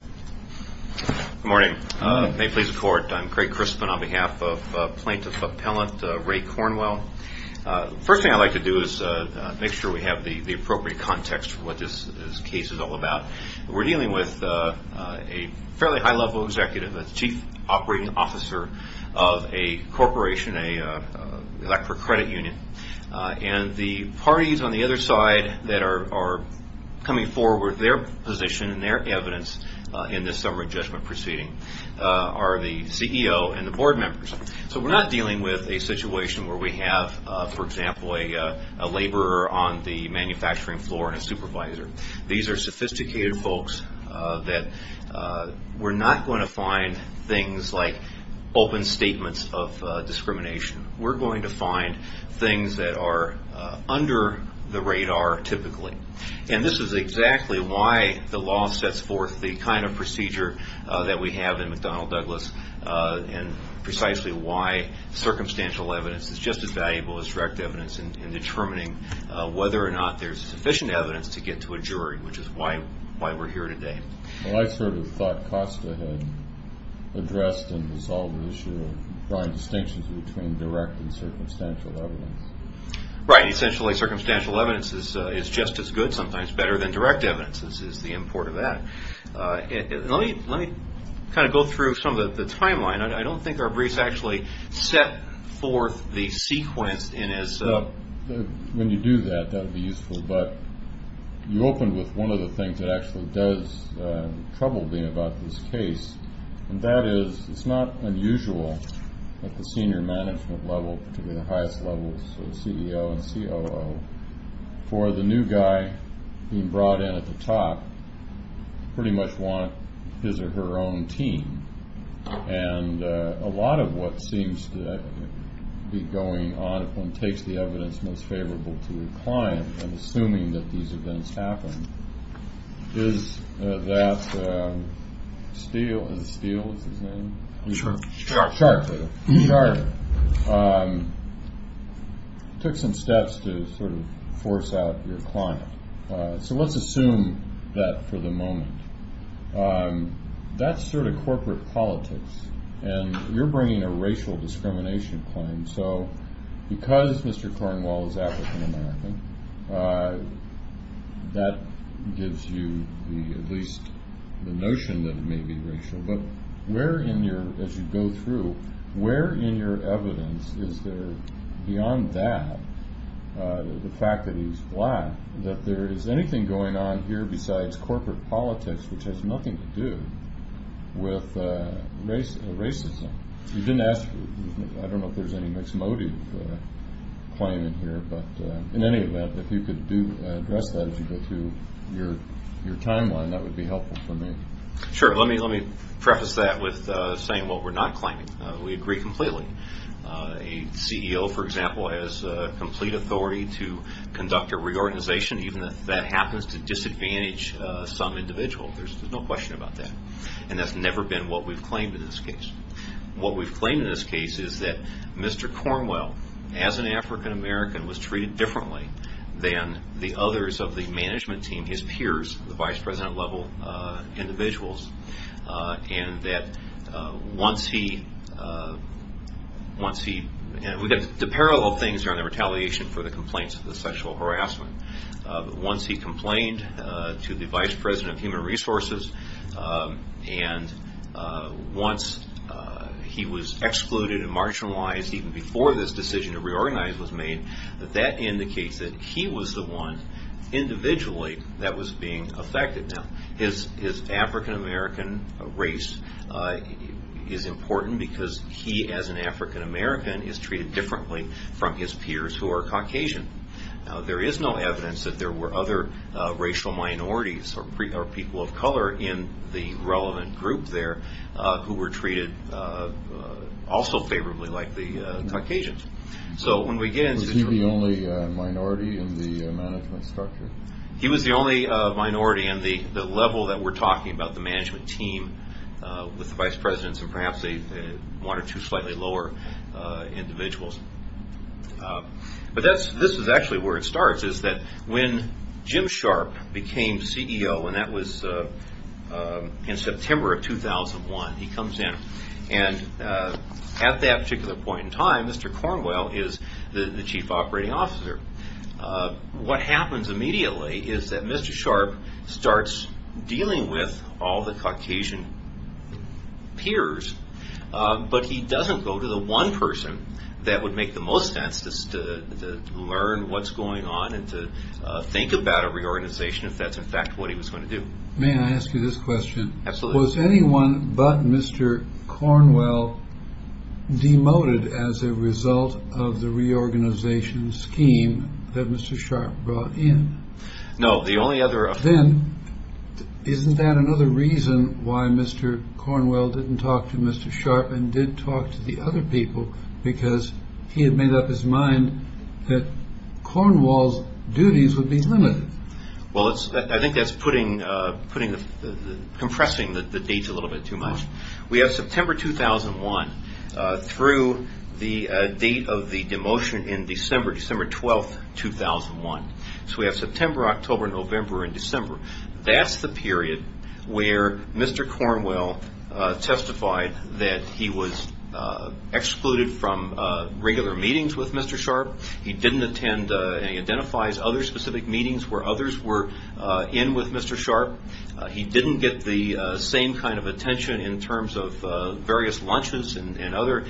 Good morning. May it please the court, I'm Craig Crispin on behalf of Plaintiff Appellant Ray Cornwell. First thing I'd like to do is make sure we have the appropriate context for what this case is all about. We're dealing with a fairly high level executive, a Chief Operating Officer of a corporation, Electra Credit Union. And the parties on the other side that are coming forward with their position and their evidence in this summer adjustment proceeding are the CEO and the board members. So we're not dealing with a situation where we have, for example, a laborer on the manufacturing floor and a supervisor. These are sophisticated folks that we're not going to find things like open statements of discrimination. We're going to find things that are under the radar typically. And this is exactly why the law sets forth the kind of procedure that we have in McDonnell Douglas and precisely why circumstantial evidence is just as valuable as direct evidence in determining whether or not there's sufficient evidence to get to a jury, which is why we're here today. Well, I sort of thought Costa had addressed and resolved the issue of drawing distinctions between direct and circumstantial evidence. Right. Essentially, circumstantial evidence is just as good, sometimes better, than direct evidence is the import of that. Let me kind of go through some of the timeline. I don't think our briefs actually set forth the sequence in as – When you do that, that would be useful. But you opened with one of the things that actually does trouble me about this case, and that is it's not unusual at the senior management level, particularly the highest levels, so CEO and COO, for the new guy being brought in at the top to pretty much want his or her own team. And a lot of what seems to be going on, if one takes the evidence most favorable to the client, and assuming that these events happen, is that Steele – is it Steele? Is his name? Sharp. Sharp. Sharp. Took some steps to sort of force out your client. So let's assume that for the moment. That's sort of corporate politics, and you're bringing a racial discrimination claim. So because Mr. Cornwall is African American, that gives you at least the notion that it may be racial. But where in your – as you go through, where in your evidence is there, beyond that, the fact that he's black, that there is anything going on here besides corporate politics, which has nothing to do with racism. You didn't ask – I don't know if there's any mixed motive claim in here, but in any event, if you could address that as you go through your timeline, that would be helpful for me. Sure. Let me preface that with saying what we're not claiming. We agree completely. A CEO, for example, has complete authority to conduct a reorganization, even if that happens to disadvantage some individual. There's no question about that. And that's never been what we've claimed in this case. What we've claimed in this case is that Mr. Cornwall, as an African American, was treated differently than the others of the management team, his peers, the vice president-level individuals, and that once he – we've got the parallel things here on the retaliation for the complaints of the sexual harassment. But once he complained to the vice president of human resources, and once he was excluded and marginalized even before this decision to reorganize was made, that that indicates that he was the one, individually, that was being affected. Now, his African American race is important because he, as an African American, is treated differently from his peers who are Caucasian. There is no evidence that there were other racial minorities or people of color in the relevant group there who were treated also favorably like the Caucasians. So when we get into the – Was he the only minority in the management structure? He was the only minority on the level that we're talking about, the management team, with the vice presidents and perhaps one or two slightly lower individuals. But this is actually where it starts, is that when Jim Sharp became CEO, and that was in September of 2001, he comes in. And at that particular point in time, Mr. Cornwall is the chief operating officer. What happens immediately is that Mr. Sharp starts dealing with all the Caucasian peers, but he doesn't go to the one person that would make the most sense to learn what's going on and to think about a reorganization if that's, in fact, what he was going to do. May I ask you this question? Absolutely. Was anyone but Mr. Cornwall demoted as a result of the reorganization scheme that Mr. Sharp brought in? No, the only other – Then isn't that another reason why Mr. Cornwall didn't talk to Mr. Sharp and did talk to the other people because he had made up his mind that Cornwall's duties would be limited? Well, I think that's compressing the dates a little bit too much. We have September 2001 through the date of the demotion in December, December 12, 2001. So we have September, October, November, and December. That's the period where Mr. Cornwall testified that he was excluded from regular meetings with Mr. Sharp. He didn't attend and he identifies other specific meetings where others were in with Mr. Sharp. He didn't get the same kind of attention in terms of various lunches and other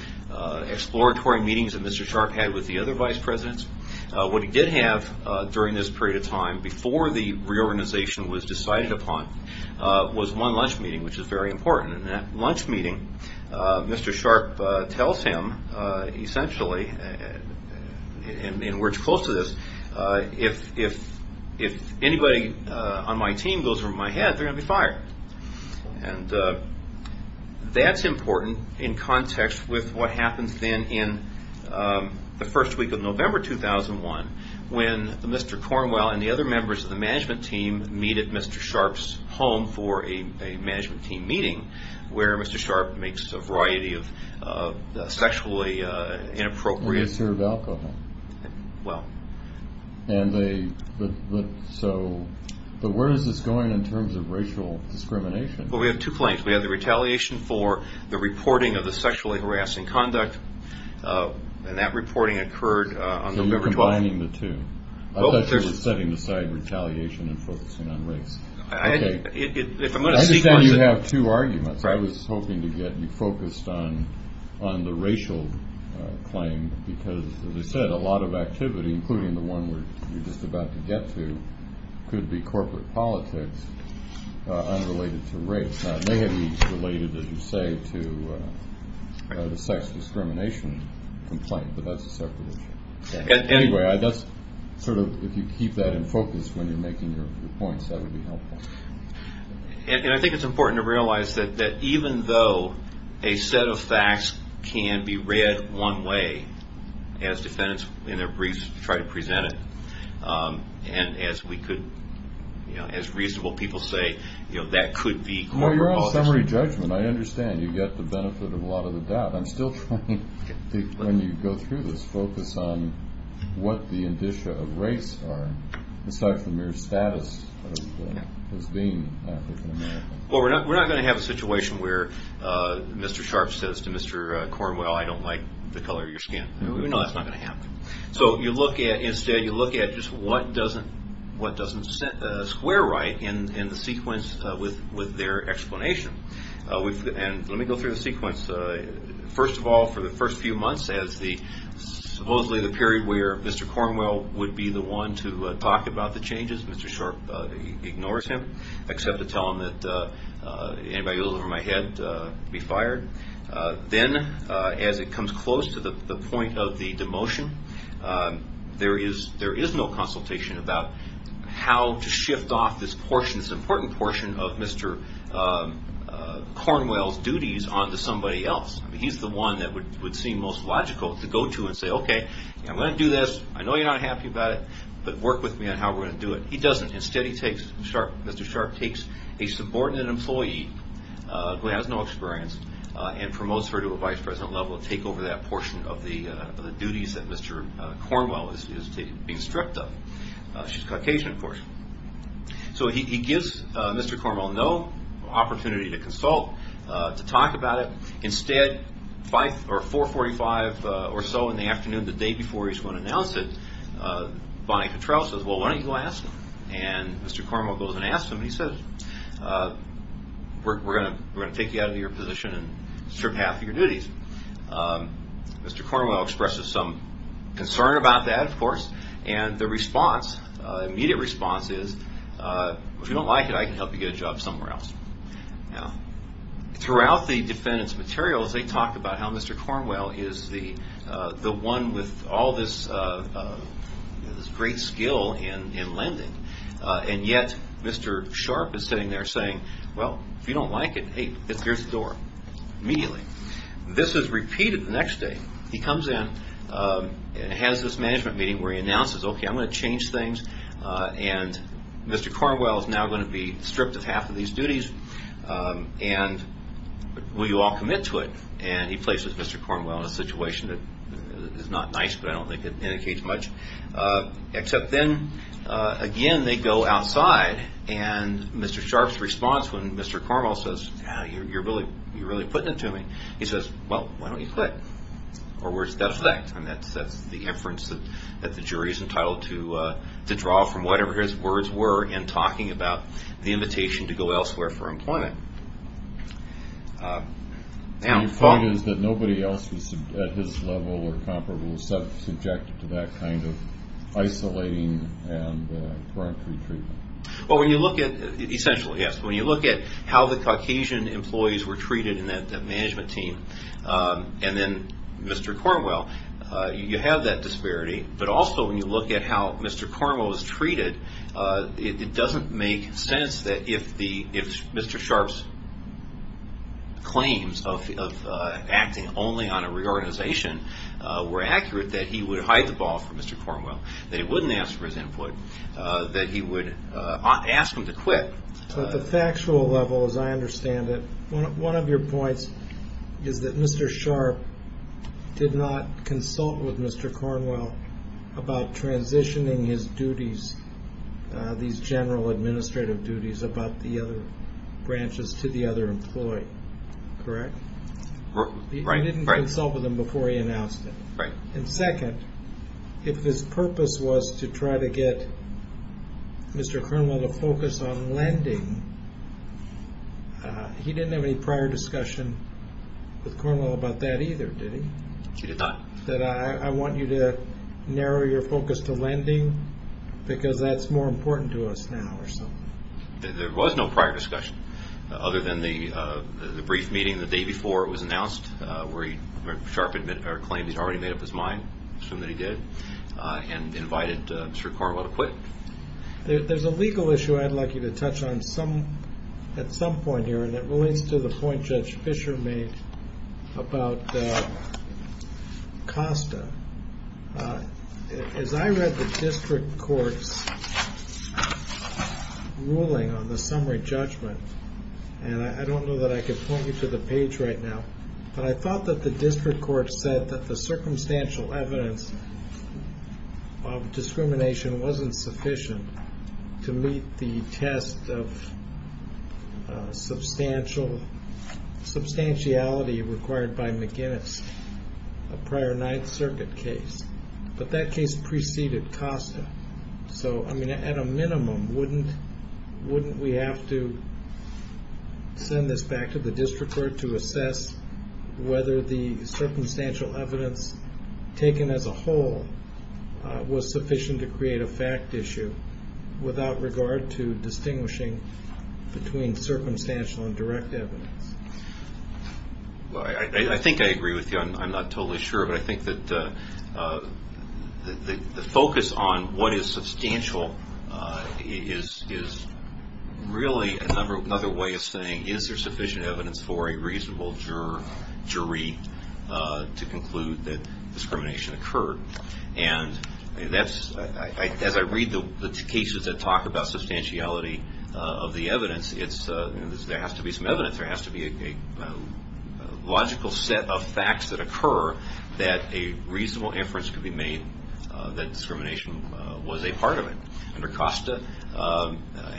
exploratory meetings that Mr. Sharp had with the other vice presidents. What he did have during this period of time before the reorganization was decided upon was one lunch meeting, which is very important. And in that lunch meeting, Mr. Sharp tells him, essentially, in words close to this, if anybody on my team goes over my head, they're going to be fired. And that's important in context with what happens then in the first week of November 2001 when Mr. Cornwall and the other members of the management team meet at Mr. Sharp's home for a management team meeting where Mr. Sharp makes a variety of sexually inappropriate... They serve alcohol. Well. And they, so, but where is this going in terms of racial discrimination? Well, we have two claims. We have the retaliation for the reporting of the sexually harassing conduct, and that reporting occurred on November 12th. I'm assigning the two. I thought you were setting aside retaliation and focusing on race. I understand you have two arguments. I was hoping to get you focused on the racial claim because, as I said, a lot of activity, including the one we're just about to get to, could be corporate politics unrelated to race. It may have been related, as you say, to the sex discrimination complaint, but that's a separate issue. Anyway, that's sort of, if you keep that in focus when you're making your points, that would be helpful. And I think it's important to realize that even though a set of facts can be read one way, as defendants in their briefs try to present it, and as we could, you know, as reasonable people say, that could be corporate politics. Well, you're on summary judgment. I understand you get the benefit of a lot of the doubt. I'm still trying to, when you go through this, focus on what the indicia of race are, aside from your status as being African American. Well, we're not going to have a situation where Mr. Sharpe says to Mr. Cornwell, I don't like the color of your skin. No, that's not going to happen. So you look at, instead, you look at just what doesn't square right in the sequence with their explanation. And let me go through the sequence. First of all, for the first few months, as supposedly the period where Mr. Cornwell would be the one to talk about the changes, Mr. Sharpe ignores him, except to tell him that anybody a little over my head would be fired. Then, as it comes close to the point of the demotion, there is no consultation about how to shift off this important portion of Mr. Cornwell's duties onto somebody else. He's the one that would seem most logical to go to and say, okay, I'm going to do this. I know you're not happy about it, but work with me on how we're going to do it. He doesn't. Instead, Mr. Sharpe takes a subordinate employee who has no experience and promotes her to a vice president level to take over that portion of the duties that Mr. Cornwell is being stripped of. She's Caucasian, of course. So he gives Mr. Cornwell no opportunity to consult, to talk about it. Instead, 445 or so in the afternoon, the day before he's going to announce it, Bonnie Cottrell says, well, why don't you go ask him? Mr. Cornwell goes and asks him, and he says, we're going to take you out of your position and strip half of your duties. Mr. Cornwell expresses some concern about that, of course, and the immediate response is, if you don't like it, I can help you get a job somewhere else. Throughout the defendant's materials, they talk about how Mr. Cornwell is the one with all this great skill in lending. And yet, Mr. Sharpe is sitting there saying, well, if you don't like it, hey, here's the door, immediately. This is repeated the next day. He comes in and has this management meeting where he announces, okay, I'm going to change things, and Mr. Cornwell is now going to be stripped of half of these duties, and will you all commit to it? And he places Mr. Cornwell in a situation that is not nice, but I don't think it indicates much. Except then, again, they go outside, and Mr. Sharpe's response when Mr. Cornwell says, you're really putting it to me, he says, well, why don't you quit? Or worse, that's an act, and that's the inference that the jury is entitled to draw from whatever his words were in talking about the invitation to go elsewhere for employment. And your point is that nobody else at his level or comparable was subjected to that kind of isolating and gruntry treatment? Well, when you look at, essentially, yes. When you look at how the Caucasian employees were treated in that management team, and then Mr. Cornwell, you have that disparity, but also when you look at how Mr. Cornwell is treated, it doesn't make sense that if Mr. Sharpe's claims of acting only on a reorganization were accurate, that he would hide the ball from Mr. Cornwell, that he wouldn't ask for his input, that he would ask him to quit. At the factual level, as I understand it, one of your points is that Mr. Sharpe did not consult with Mr. Cornwell about transitioning his duties, these general administrative duties about the other branches to the other employee, correct? Right. He didn't consult with him before he announced it. Right. And second, if his purpose was to try to get Mr. Cornwell to focus on lending, he didn't have any prior discussion with Cornwell about that either, did he? He did not. I want you to narrow your focus to lending, because that's more important to us now or something. There was no prior discussion, other than the brief meeting the day before it was announced, where Sharpe claimed he'd already made up his mind, assumed that he did, and invited Mr. Cornwell to quit. There's a legal issue I'd like you to touch on at some point here, and it relates to the point Judge Fischer made about COSTA. As I read the district court's ruling on the summary judgment, and I don't know that I can point you to the page right now, but I thought that the district court said that the circumstantial evidence of discrimination wasn't sufficient to meet the test of substantiality required by McGinnis, a prior Ninth Circuit case. But that case preceded COSTA, so at a minimum, wouldn't we have to send this back to the district court to assess whether the circumstantial evidence taken as a whole was sufficient to create a fact issue without regard to distinguishing between circumstantial and direct evidence? I think I agree with you. I'm not totally sure, but I think that the focus on what is substantial is really another way of saying, is there sufficient evidence for a reasonable jury to conclude that discrimination occurred? As I read the cases that talk about substantiality of the evidence, there has to be some evidence. There has to be a logical set of facts that occur that a reasonable inference could be made that discrimination was a part of it. Under COSTA,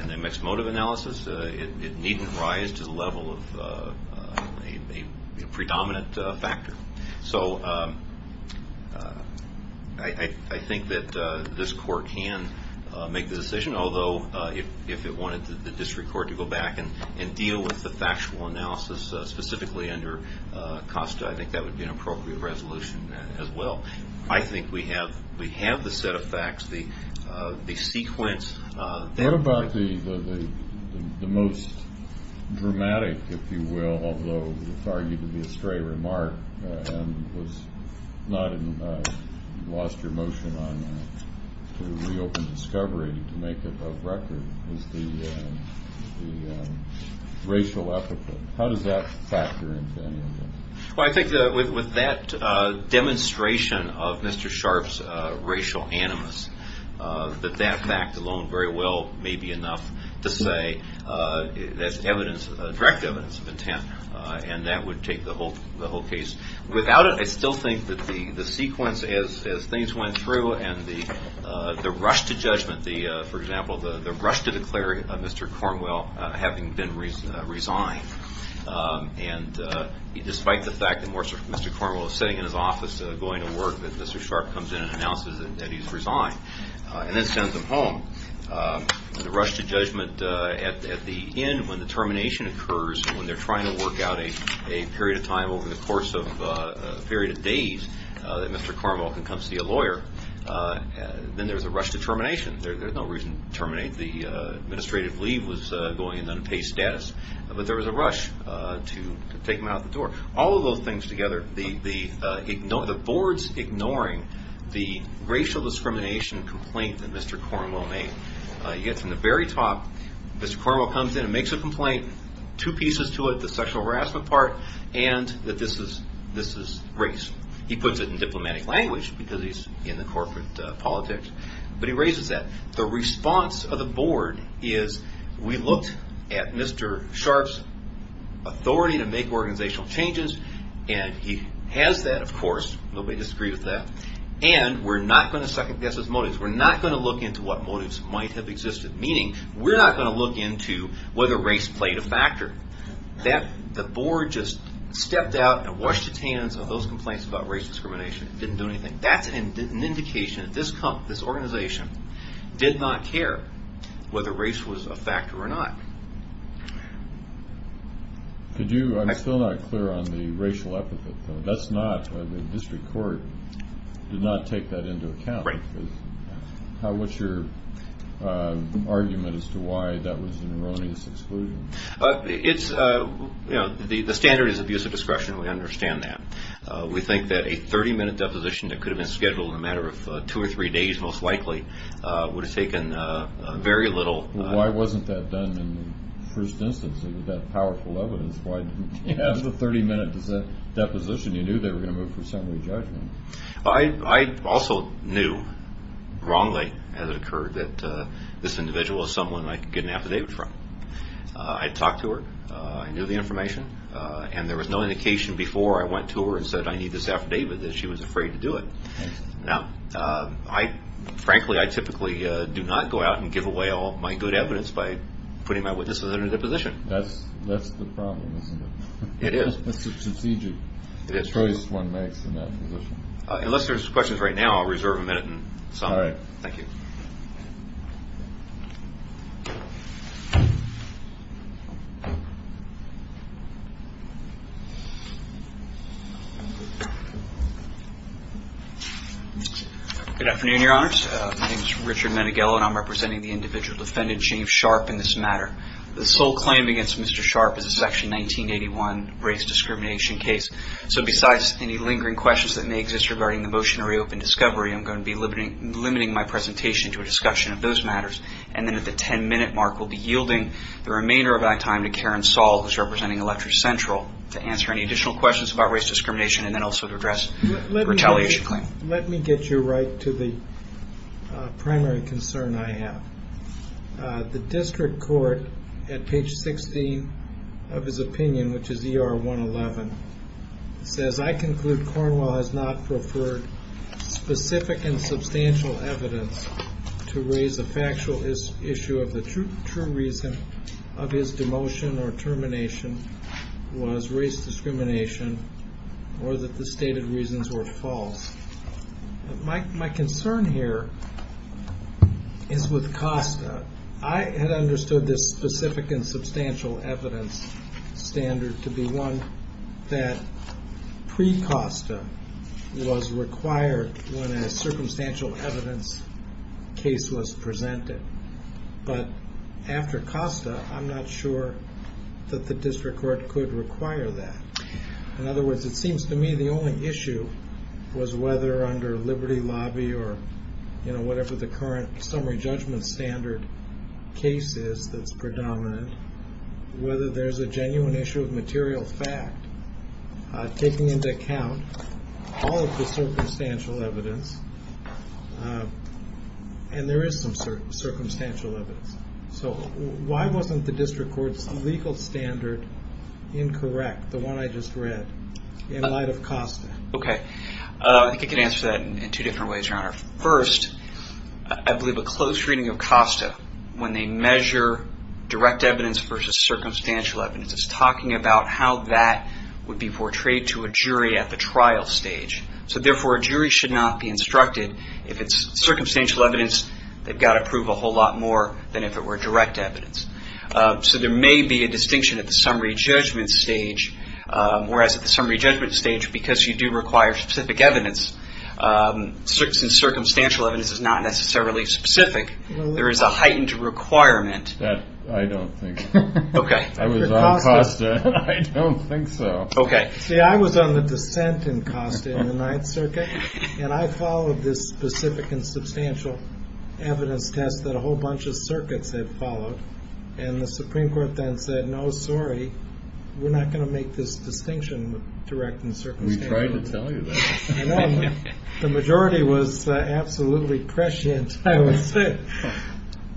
in the mixed motive analysis, it needn't rise to the level of a predominant factor. So I think that this court can make the decision, although if it wanted the district court to go back and deal with the factual analysis specifically under COSTA, I think that would be an appropriate resolution as well. I think we have the set of facts, the sequence. What about the most dramatic, if you will, although it's argued to be a stray remark and you lost your motion on that, to reopen discovery to make it a record, was the racial epithet. How does that factor into any of it? Well, I think that with that demonstration of Mr. Sharpe's racial animus, that that fact alone very well may be enough to say that's direct evidence of intent, and that would take the whole case. Without it, I still think that the sequence as things went through and the rush to judgment, for example, the rush to declare Mr. Cornwell having been resigned, and despite the fact that Mr. Cornwell is sitting in his office going to work, that Mr. Sharpe comes in and announces that he's resigned, and that sends him home. The rush to judgment at the end when the termination occurs, when they're trying to work out a period of time over the course of a period of days that Mr. Cornwell can come see a lawyer, then there's a rush to termination. There's no reason to terminate. The administrative leave was going in unpaid status. But there was a rush to take him out the door. All of those things together, the boards ignoring the racial discrimination complaint that Mr. Cornwell made. You get from the very top, Mr. Cornwell comes in and makes a complaint, two pieces to it, the sexual harassment part, and that this is race. He puts it in diplomatic language because he's in the corporate politics, but he raises that. The response of the board is we looked at Mr. Sharpe's authority to make organizational changes, and he has that, of course. Nobody disagreed with that. And we're not going to second-guess his motives. We're not going to look into what motives might have existed, meaning we're not going to look into whether race played a factor. The board just stepped out and washed its hands of those complaints about race discrimination. It didn't do anything. That's an indication that this organization did not care whether race was a factor or not. I'm still not clear on the racial epithet, though. The district court did not take that into account. What's your argument as to why that was an erroneous exclusion? The standard is abusive discretion, and we understand that. We think that a 30-minute deposition that could have been scheduled in a matter of two or three days, most likely, would have taken very little. Why wasn't that done in the first instance? It was that powerful evidence. Why didn't you have the 30-minute deposition? You knew they were going to move for assembly judgment. I also knew wrongly, as it occurred, that this individual was someone I could get an affidavit from. I talked to her. I knew the information. There was no indication before I went to her and said, I need this affidavit, that she was afraid to do it. Frankly, I typically do not go out and give away all of my good evidence by putting my witnesses in a deposition. That's the problem, isn't it? It is. It's a strategic choice one makes in that position. Unless there's questions right now, I'll reserve a minute and sum up. All right. Thank you. Good afternoon, Your Honors. My name is Richard Manighello, and I'm representing the individual defendant, James Sharp, in this matter. The sole claim against Mr. Sharp is a Section 1981 race discrimination case. So besides any lingering questions that may exist regarding the motion to reopen discovery, I'm going to be limiting my presentation to a discussion of those matters. And then at the ten-minute mark, we'll be yielding the remainder of our time to Karen Saul, who's representing Electric Central, to answer any additional questions about race discrimination and then also to address the retaliation claim. Let me get you right to the primary concern I have. The district court, at page 16 of his opinion, which is ER 111, says, I conclude Cornwell has not preferred specific and substantial evidence to raise a factual issue of the true reason of his demotion or termination was race discrimination or that the stated reasons were false. My concern here is with cost. I had understood this specific and substantial evidence standard to be one that pre-COSTA was required when a circumstantial evidence case was presented. But after COSTA, I'm not sure that the district court could require that. In other words, it seems to me the only issue was whether under Liberty Lobby or whatever the current summary judgment standard case is that's predominant, whether there's a genuine issue of material fact taking into account all of the circumstantial evidence. And there is some circumstantial evidence. So why wasn't the district court's legal standard incorrect, the one I just read, in light of COSTA? Okay, I think I can answer that in two different ways, Your Honor. First, I believe a close reading of COSTA, when they measure direct evidence versus circumstantial evidence, is talking about how that would be portrayed to a jury at the trial stage. So therefore, a jury should not be instructed, if it's circumstantial evidence, they've got to prove a whole lot more than if it were direct evidence. So there may be a distinction at the summary judgment stage. Whereas at the summary judgment stage, because you do require specific evidence, since circumstantial evidence is not necessarily specific, there is a heightened requirement. That I don't think. Okay. I was on COSTA. I don't think so. Okay. See, I was on the dissent in COSTA in the Ninth Circuit. And I followed this specific and substantial evidence test that a whole bunch of circuits had followed. And the Supreme Court then said, no, sorry, we're not going to make this distinction with direct and circumstantial evidence. We tried to tell you that. I know. The majority was absolutely prescient, I would say.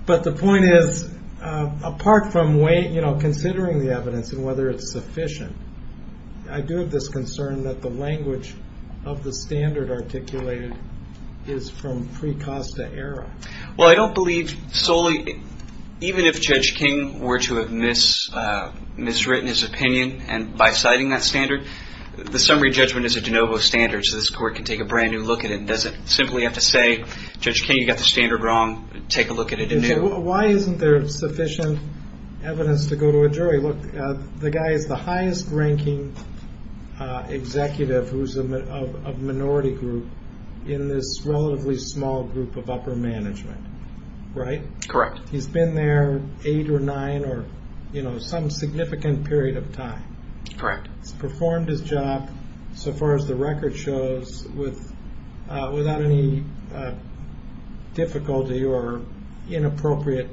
But the point is, apart from considering the evidence and whether it's sufficient, I do have this concern that the language of the standard articulated is from pre-COSTA era. Well, I don't believe solely, even if Judge King were to have miswritten his opinion, and by citing that standard, the summary judgment is a de novo standard. So this court can take a brand new look at it. It doesn't simply have to say, Judge King, you got the standard wrong. Take a look at it anew. Why isn't there sufficient evidence to go to a jury? Look, the guy is the highest ranking executive of a minority group in this relatively small group of upper management, right? Correct. He's been there eight or nine or some significant period of time. Correct. He's performed his job, so far as the record shows, without any difficulty or inappropriate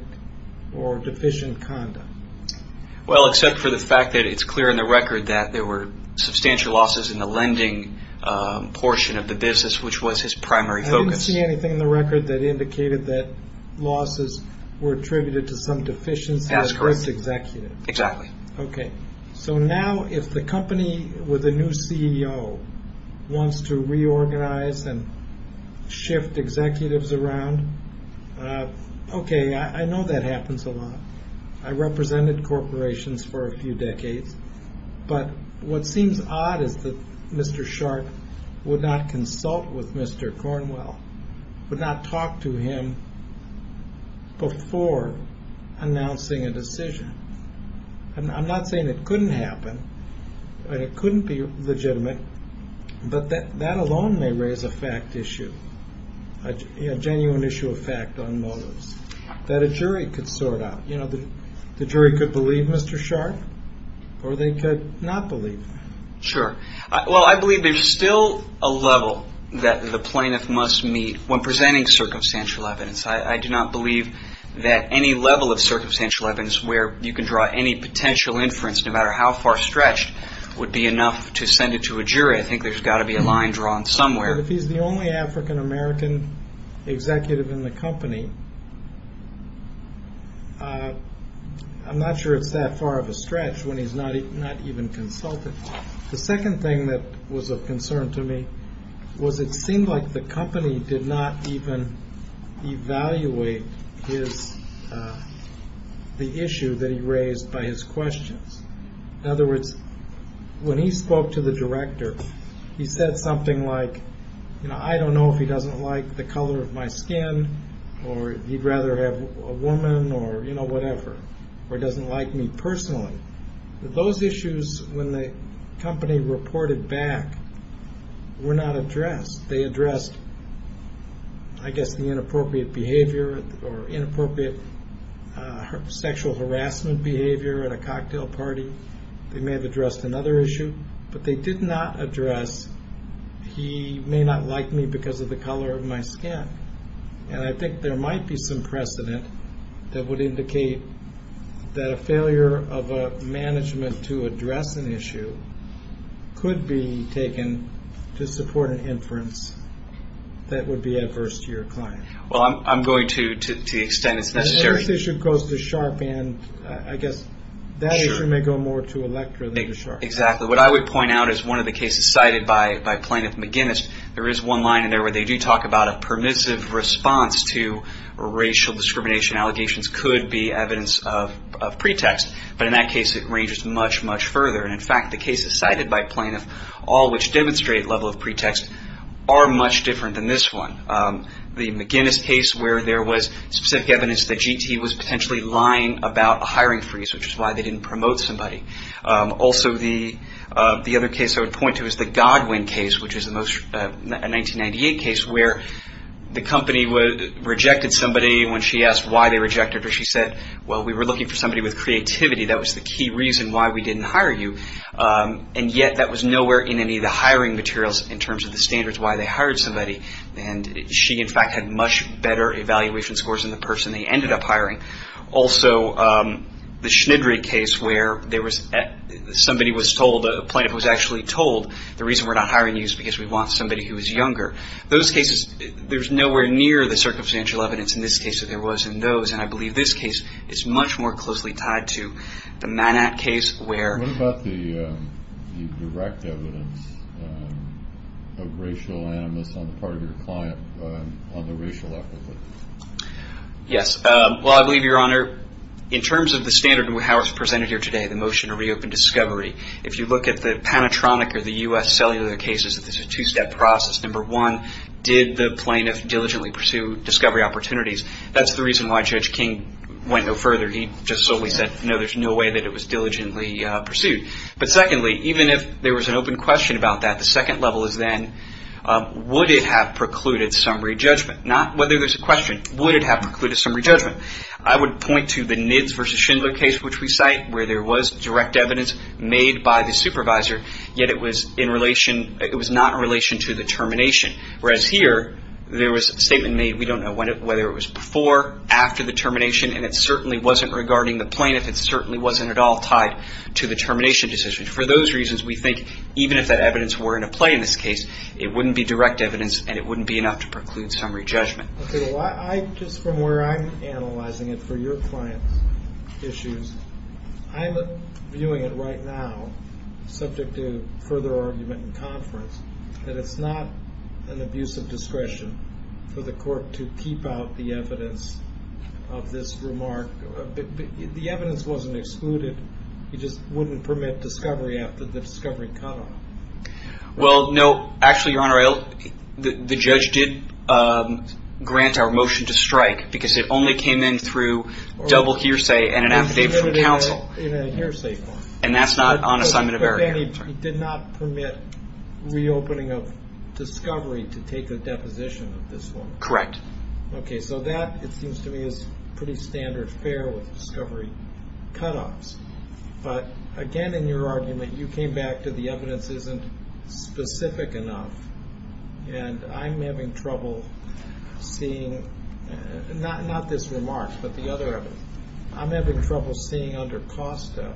or deficient conduct. Well, except for the fact that it's clear in the record that there were substantial losses in the lending portion of the business, which was his primary focus. I didn't see anything in the record that indicated that losses were attributed to some deficiency with the executive. That is correct. Exactly. Okay. So now if the company with a new CEO wants to reorganize and shift executives around, okay, I know that happens a lot. I represented corporations for a few decades, but what seems odd is that Mr. Sharp would not consult with Mr. Cornwell, would not talk to him before announcing a decision. I'm not saying it couldn't happen, that it couldn't be legitimate, but that alone may raise a fact issue, a genuine issue of fact on motives that a jury could sort out. You know, the jury could believe Mr. Sharp or they could not believe him. Sure. Well, I believe there's still a level that the plaintiff must meet when presenting circumstantial evidence. I do not believe that any level of circumstantial evidence where you can draw any potential inference, no matter how far stretched, would be enough to send it to a jury. I think there's got to be a line drawn somewhere. If he's the only African-American executive in the company, I'm not sure it's that far of a stretch when he's not even consulted. The second thing that was of concern to me was it seemed like the company did not even evaluate the issue that he raised by his questions. In other words, when he spoke to the director, he said something like, you know, I don't know if he doesn't like the color of my skin or he'd rather have a woman or, you know, whatever, or he doesn't like me personally. Those issues, when the company reported back, were not addressed. They addressed, I guess, the inappropriate behavior or inappropriate sexual harassment behavior at a cocktail party. They may have addressed another issue, but they did not address he may not like me because of the color of my skin. And I think there might be some precedent that would indicate that a failure of a management to address an issue could be taken to support an inference that would be adverse to your client. Well, I'm going to the extent it's necessary. If this issue goes to Sharpe and, I guess, that issue may go more to Electra than to Sharpe. Exactly. What I would point out is one of the cases cited by Plaintiff McGinnis, there is one line in there where they do talk about a permissive response to racial discrimination. Allegations could be evidence of pretext. But in that case, it ranges much, much further. And, in fact, the cases cited by Plaintiff, all which demonstrate level of pretext, are much different than this one. The McGinnis case where there was specific evidence that GT was potentially lying about a hiring freeze, which is why they didn't promote somebody. Also, the other case I would point to is the Godwin case, which is a 1998 case, where the company rejected somebody when she asked why they rejected her. She said, well, we were looking for somebody with creativity. That was the key reason why we didn't hire you. And yet, that was nowhere in any of the hiring materials in terms of the standards why they hired somebody. And she, in fact, had much better evaluation scores than the person they ended up hiring. Also, the Schnidry case where somebody was told, a plaintiff was actually told, the reason we're not hiring you is because we want somebody who is younger. Those cases, there's nowhere near the circumstantial evidence in this case that there was in those. And I believe this case is much more closely tied to the Manat case where- What about the direct evidence of racial animus on the part of your client on the racial epithets? Yes. Well, I believe, Your Honor, in terms of the standard of how it's presented here today, the motion to reopen discovery, if you look at the Panatronic or the U.S. cellular cases, this is a two-step process. Number one, did the plaintiff diligently pursue discovery opportunities? That's the reason why Judge King went no further. He just solely said, no, there's no way that it was diligently pursued. But secondly, even if there was an open question about that, the second level is then, would it have precluded summary judgment? Not whether there's a question. Would it have precluded summary judgment? I would point to the Nidds v. Schindler case, which we cite, where there was direct evidence made by the supervisor, yet it was not in relation to the termination. Whereas here, there was a statement made, we don't know whether it was before, after the termination, and it certainly wasn't regarding the plaintiff. It certainly wasn't at all tied to the termination decision. For those reasons, we think even if that evidence were in a play in this case, it wouldn't be direct evidence and it wouldn't be enough to preclude summary judgment. Okay. Just from where I'm analyzing it for your client's issues, I'm viewing it right now, subject to further argument in conference, that it's not an abuse of discretion for the court to keep out the evidence of this remark. The evidence wasn't excluded. You just wouldn't permit discovery after the discovery cutoff. Well, no. Actually, Your Honor, the judge did grant our motion to strike because it only came in through double hearsay and an affidavit from counsel. In a hearsay form. And that's not on assignment of error. But then he did not permit reopening of discovery to take a deposition of this one. Correct. Okay. So that, it seems to me, is pretty standard fare with discovery cutoffs. But, again, in your argument, you came back to the evidence isn't specific enough. And I'm having trouble seeing, not this remark, but the other evidence. I'm having trouble seeing under COSTA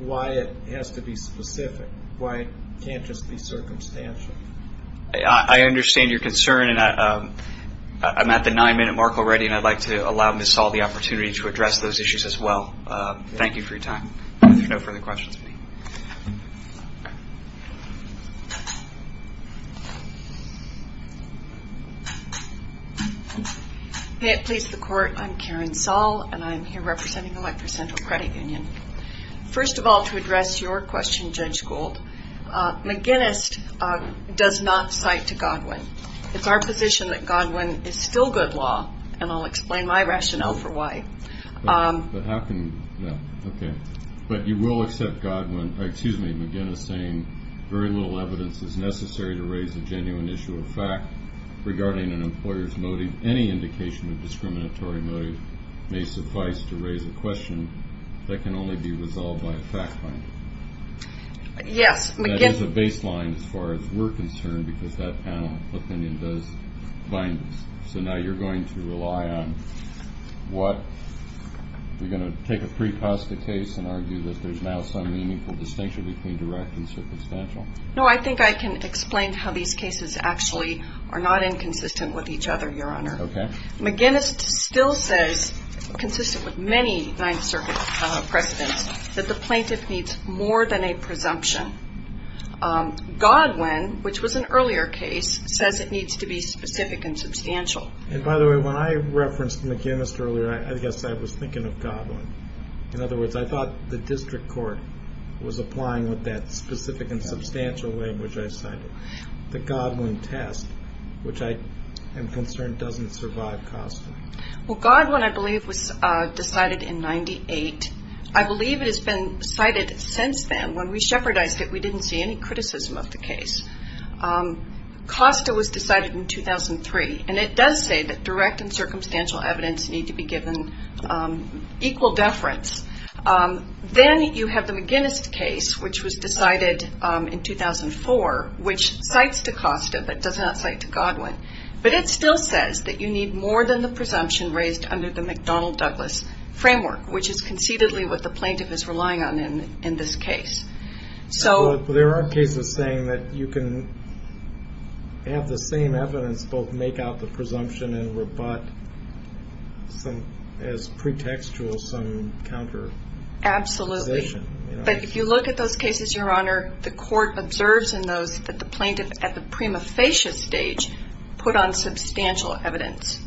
why it has to be specific, why it can't just be circumstantial. I understand your concern. And I'm at the nine-minute mark already, and I'd like to allow Ms. Saul the opportunity to address those issues as well. Thank you for your time. If there are no further questions. May it please the Court. I'm Karen Saul, and I'm here representing Electoral Central Credit Union. First of all, to address your question, Judge Gould, McGinnis does not cite to Godwin. It's our position that Godwin is still good law, and I'll explain my rationale for why. But how can, okay. But you will accept Godwin, excuse me, McGinnis saying, very little evidence is necessary to raise a genuine issue or fact regarding an employer's motive. Any indication of discriminatory motive may suffice to raise a question that can only be resolved by a fact find. Yes, McGinnis. That is a baseline as far as we're concerned, because that panel opinion does bind us. So now you're going to rely on what? You're going to take a pre-Costa case and argue that there's now some meaningful distinction between direct and circumstantial? No, I think I can explain how these cases actually are not inconsistent with each other, Your Honor. Okay. McGinnis still says, consistent with many Ninth Circuit precedents, that the plaintiff needs more than a presumption. Godwin, which was an earlier case, says it needs to be specific and substantial. And by the way, when I referenced McGinnis earlier, I guess I was thinking of Godwin. In other words, I thought the district court was applying with that specific and substantial language I cited. The Godwin test, which I am concerned doesn't survive Costa. Well, Godwin, I believe, was decided in 98. I believe it has been cited since then. When we shepherdized it, we didn't see any criticism of the case. Costa was decided in 2003, and it does say that direct and circumstantial evidence need to be given equal deference. Then you have the McGinnis case, which was decided in 2004, which cites to Costa but does not cite to Godwin. But it still says that you need more than the presumption raised under the McDonnell-Douglas framework, which is conceitedly what the plaintiff is relying on in this case. But there are cases saying that you can have the same evidence both make out the presumption and rebut as pretextual some counter- Absolutely. But if you look at those cases, Your Honor, the court observes in those that the plaintiff at the prima facie stage put on substantial evidence.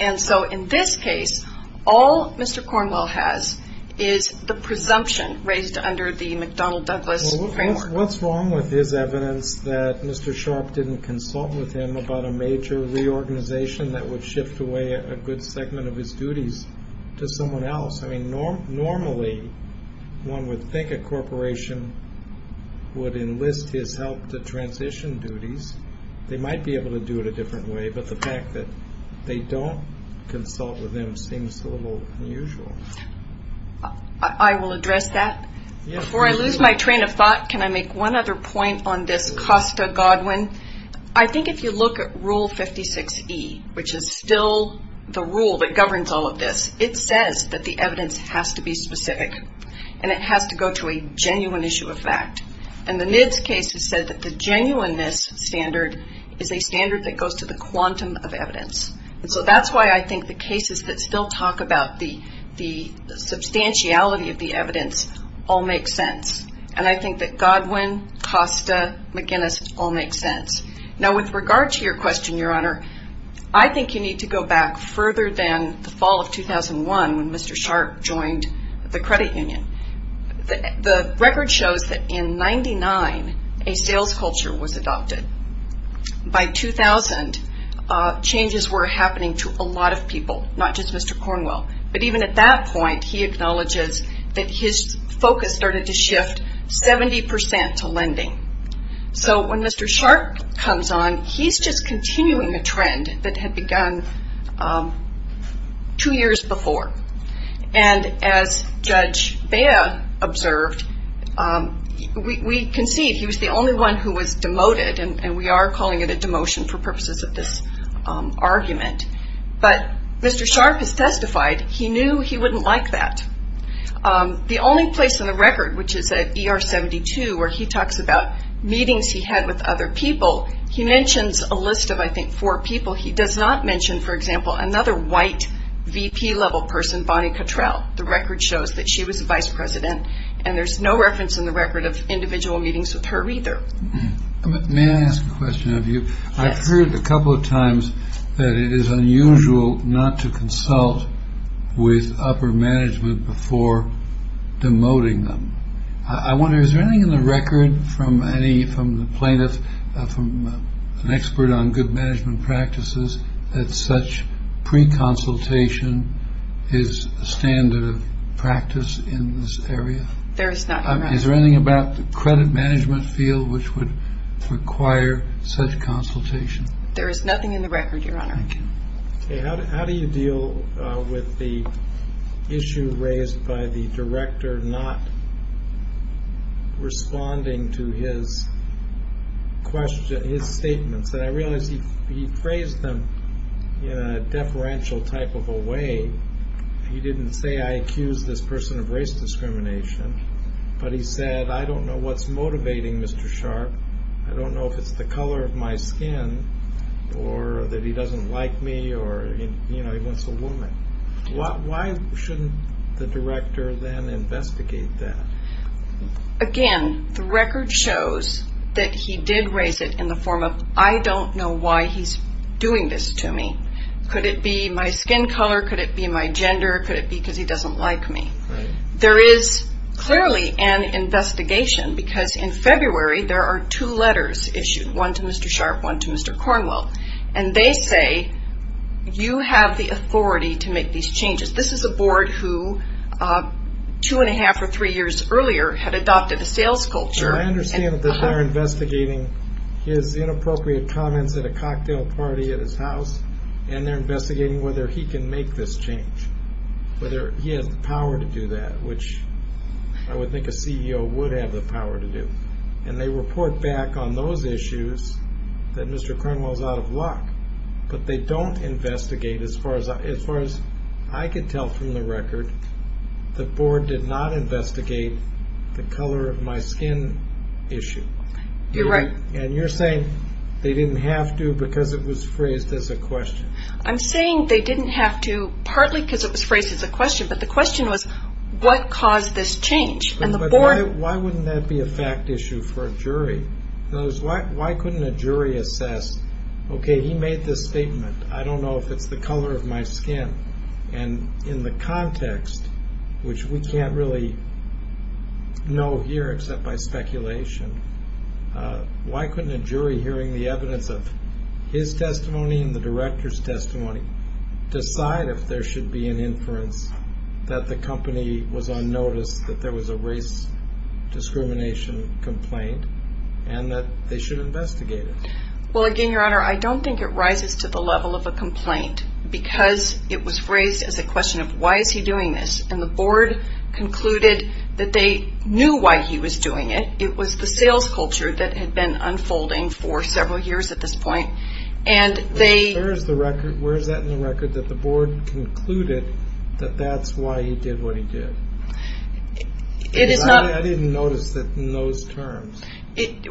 And so in this case, all Mr. Cornwell has is the presumption raised under the McDonnell-Douglas framework. What's wrong with his evidence that Mr. Sharp didn't consult with him about a major reorganization that would shift away a good segment of his duties to someone else? I mean, normally one would think a corporation would enlist his help to transition duties. They might be able to do it a different way. But the fact that they don't consult with him seems a little unusual. I will address that. Before I lose my train of thought, can I make one other point on this Costa-Godwin? I think if you look at Rule 56E, which is still the rule that governs all of this, it says that the evidence has to be specific. And it has to go to a genuine issue of fact. And the NIDS case has said that the genuineness standard is a standard that goes to the quantum of evidence. And so that's why I think the cases that still talk about the substantiality of the evidence all make sense. And I think that Godwin, Costa, McGinnis all make sense. Now, with regard to your question, Your Honor, I think you need to go back further than the fall of 2001, when Mr. Sharp joined the credit union. The record shows that in 99, a sales culture was adopted. By 2000, changes were happening to a lot of people, not just Mr. Cornwell. But even at that point, he acknowledges that his focus started to shift 70% to lending. So when Mr. Sharp comes on, he's just continuing a trend that had begun two years before. And as Judge Bea observed, we concede he was the only one who was demoted, and we are calling it a demotion for purposes of this argument. But Mr. Sharp has testified he knew he wouldn't like that. The only place on the record, which is at ER 72, where he talks about meetings he had with other people, he mentions a list of, I think, four people. He does not mention, for example, another white VP-level person, Bonnie Cottrell. The record shows that she was the vice president, and there's no reference in the record of individual meetings with her either. May I ask a question of you? I've heard a couple of times that it is unusual not to consult with upper management before demoting them. I wonder, is there anything in the record from the plaintiff, from an expert on good management practices, that such pre-consultation is a standard of practice in this area? Is there anything about the credit management field which would require such consultation? There is nothing in the record, Your Honor. How do you deal with the issue raised by the director not responding to his statements? And I realize he phrased them in a deferential type of a way. He didn't say, I accuse this person of race discrimination, but he said, I don't know what's motivating Mr. Sharp. I don't know if it's the color of my skin or that he doesn't like me or, you know, he wants a woman. Why shouldn't the director then investigate that? Again, the record shows that he did raise it in the form of, I don't know why he's doing this to me. Could it be my skin color? Could it be my gender? Could it be because he doesn't like me? There is clearly an investigation because in February there are two letters issued, one to Mr. Sharp, one to Mr. Cornwell. And they say, you have the authority to make these changes. This is a board who two and a half or three years earlier had adopted a sales culture. I understand that they're investigating his inappropriate comments at a cocktail party at his house, and they're investigating whether he can make this change, whether he has the power to do that, which I would think a CEO would have the power to do. And they report back on those issues that Mr. Cornwell is out of luck. But they don't investigate, as far as I could tell from the record, the board did not investigate the color of my skin issue. You're right. And you're saying they didn't have to because it was phrased as a question. I'm saying they didn't have to partly because it was phrased as a question, but the question was, what caused this change? Why wouldn't that be a fact issue for a jury? Why couldn't a jury assess, okay, he made this statement. I don't know if it's the color of my skin. And in the context, which we can't really know here except by speculation, why couldn't a jury, hearing the evidence of his testimony and the director's testimony, decide if there should be an inference that the company was on notice, that there was a race discrimination complaint, and that they should investigate it? Well, again, Your Honor, I don't think it rises to the level of a complaint because it was phrased as a question of, why is he doing this? And the board concluded that they knew why he was doing it. It was the sales culture that had been unfolding for several years at this point. Where is that in the record that the board concluded that that's why he did what he did? I didn't notice it in those terms. It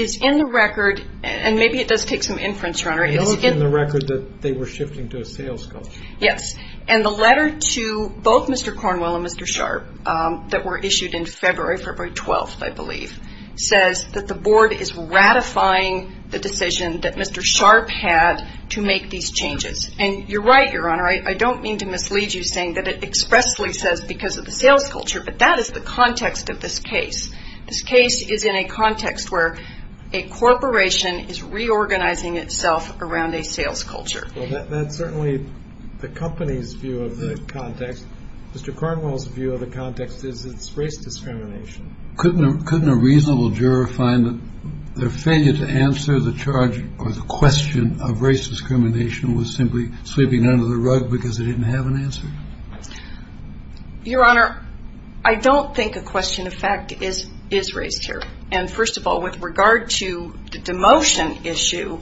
is in the record, and maybe it does take some inference, Your Honor. It is in the record that they were shifting to a sales culture. Yes. And the letter to both Mr. Cornwell and Mr. Sharp that were issued in February, February 12th, I believe, says that the board is ratifying the decision that Mr. Sharp had to make these changes. And you're right, Your Honor, I don't mean to mislead you, saying that it expressly says because of the sales culture, but that is the context of this case. This case is in a context where a corporation is reorganizing itself around a sales culture. Well, that's certainly the company's view of the context. Mr. Cornwell's view of the context is it's race discrimination. Couldn't a reasonable juror find that their failure to answer the charge or the question of race discrimination was simply sweeping under the rug because they didn't have an answer? Your Honor, I don't think a question of fact is raised here. And, first of all, with regard to the demotion issue,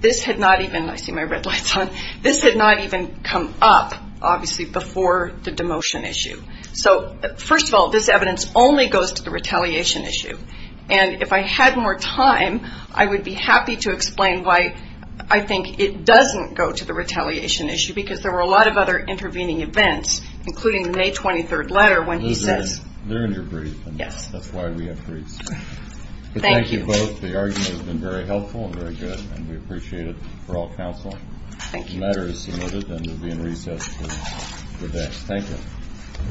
this had not even, I see my red lights on, this had not even come up, obviously, before the demotion issue. So, first of all, this evidence only goes to the retaliation issue. And if I had more time, I would be happy to explain why I think it doesn't go to the retaliation issue because there were a lot of other intervening events, including the May 23rd letter when he says. They're in your brief. Yes. That's why we have briefs. Thank you. Thank you both. The argument has been very helpful and very good, and we appreciate it for all counsel. Thank you. The letter is submitted and will be in recess until the next. Thank you.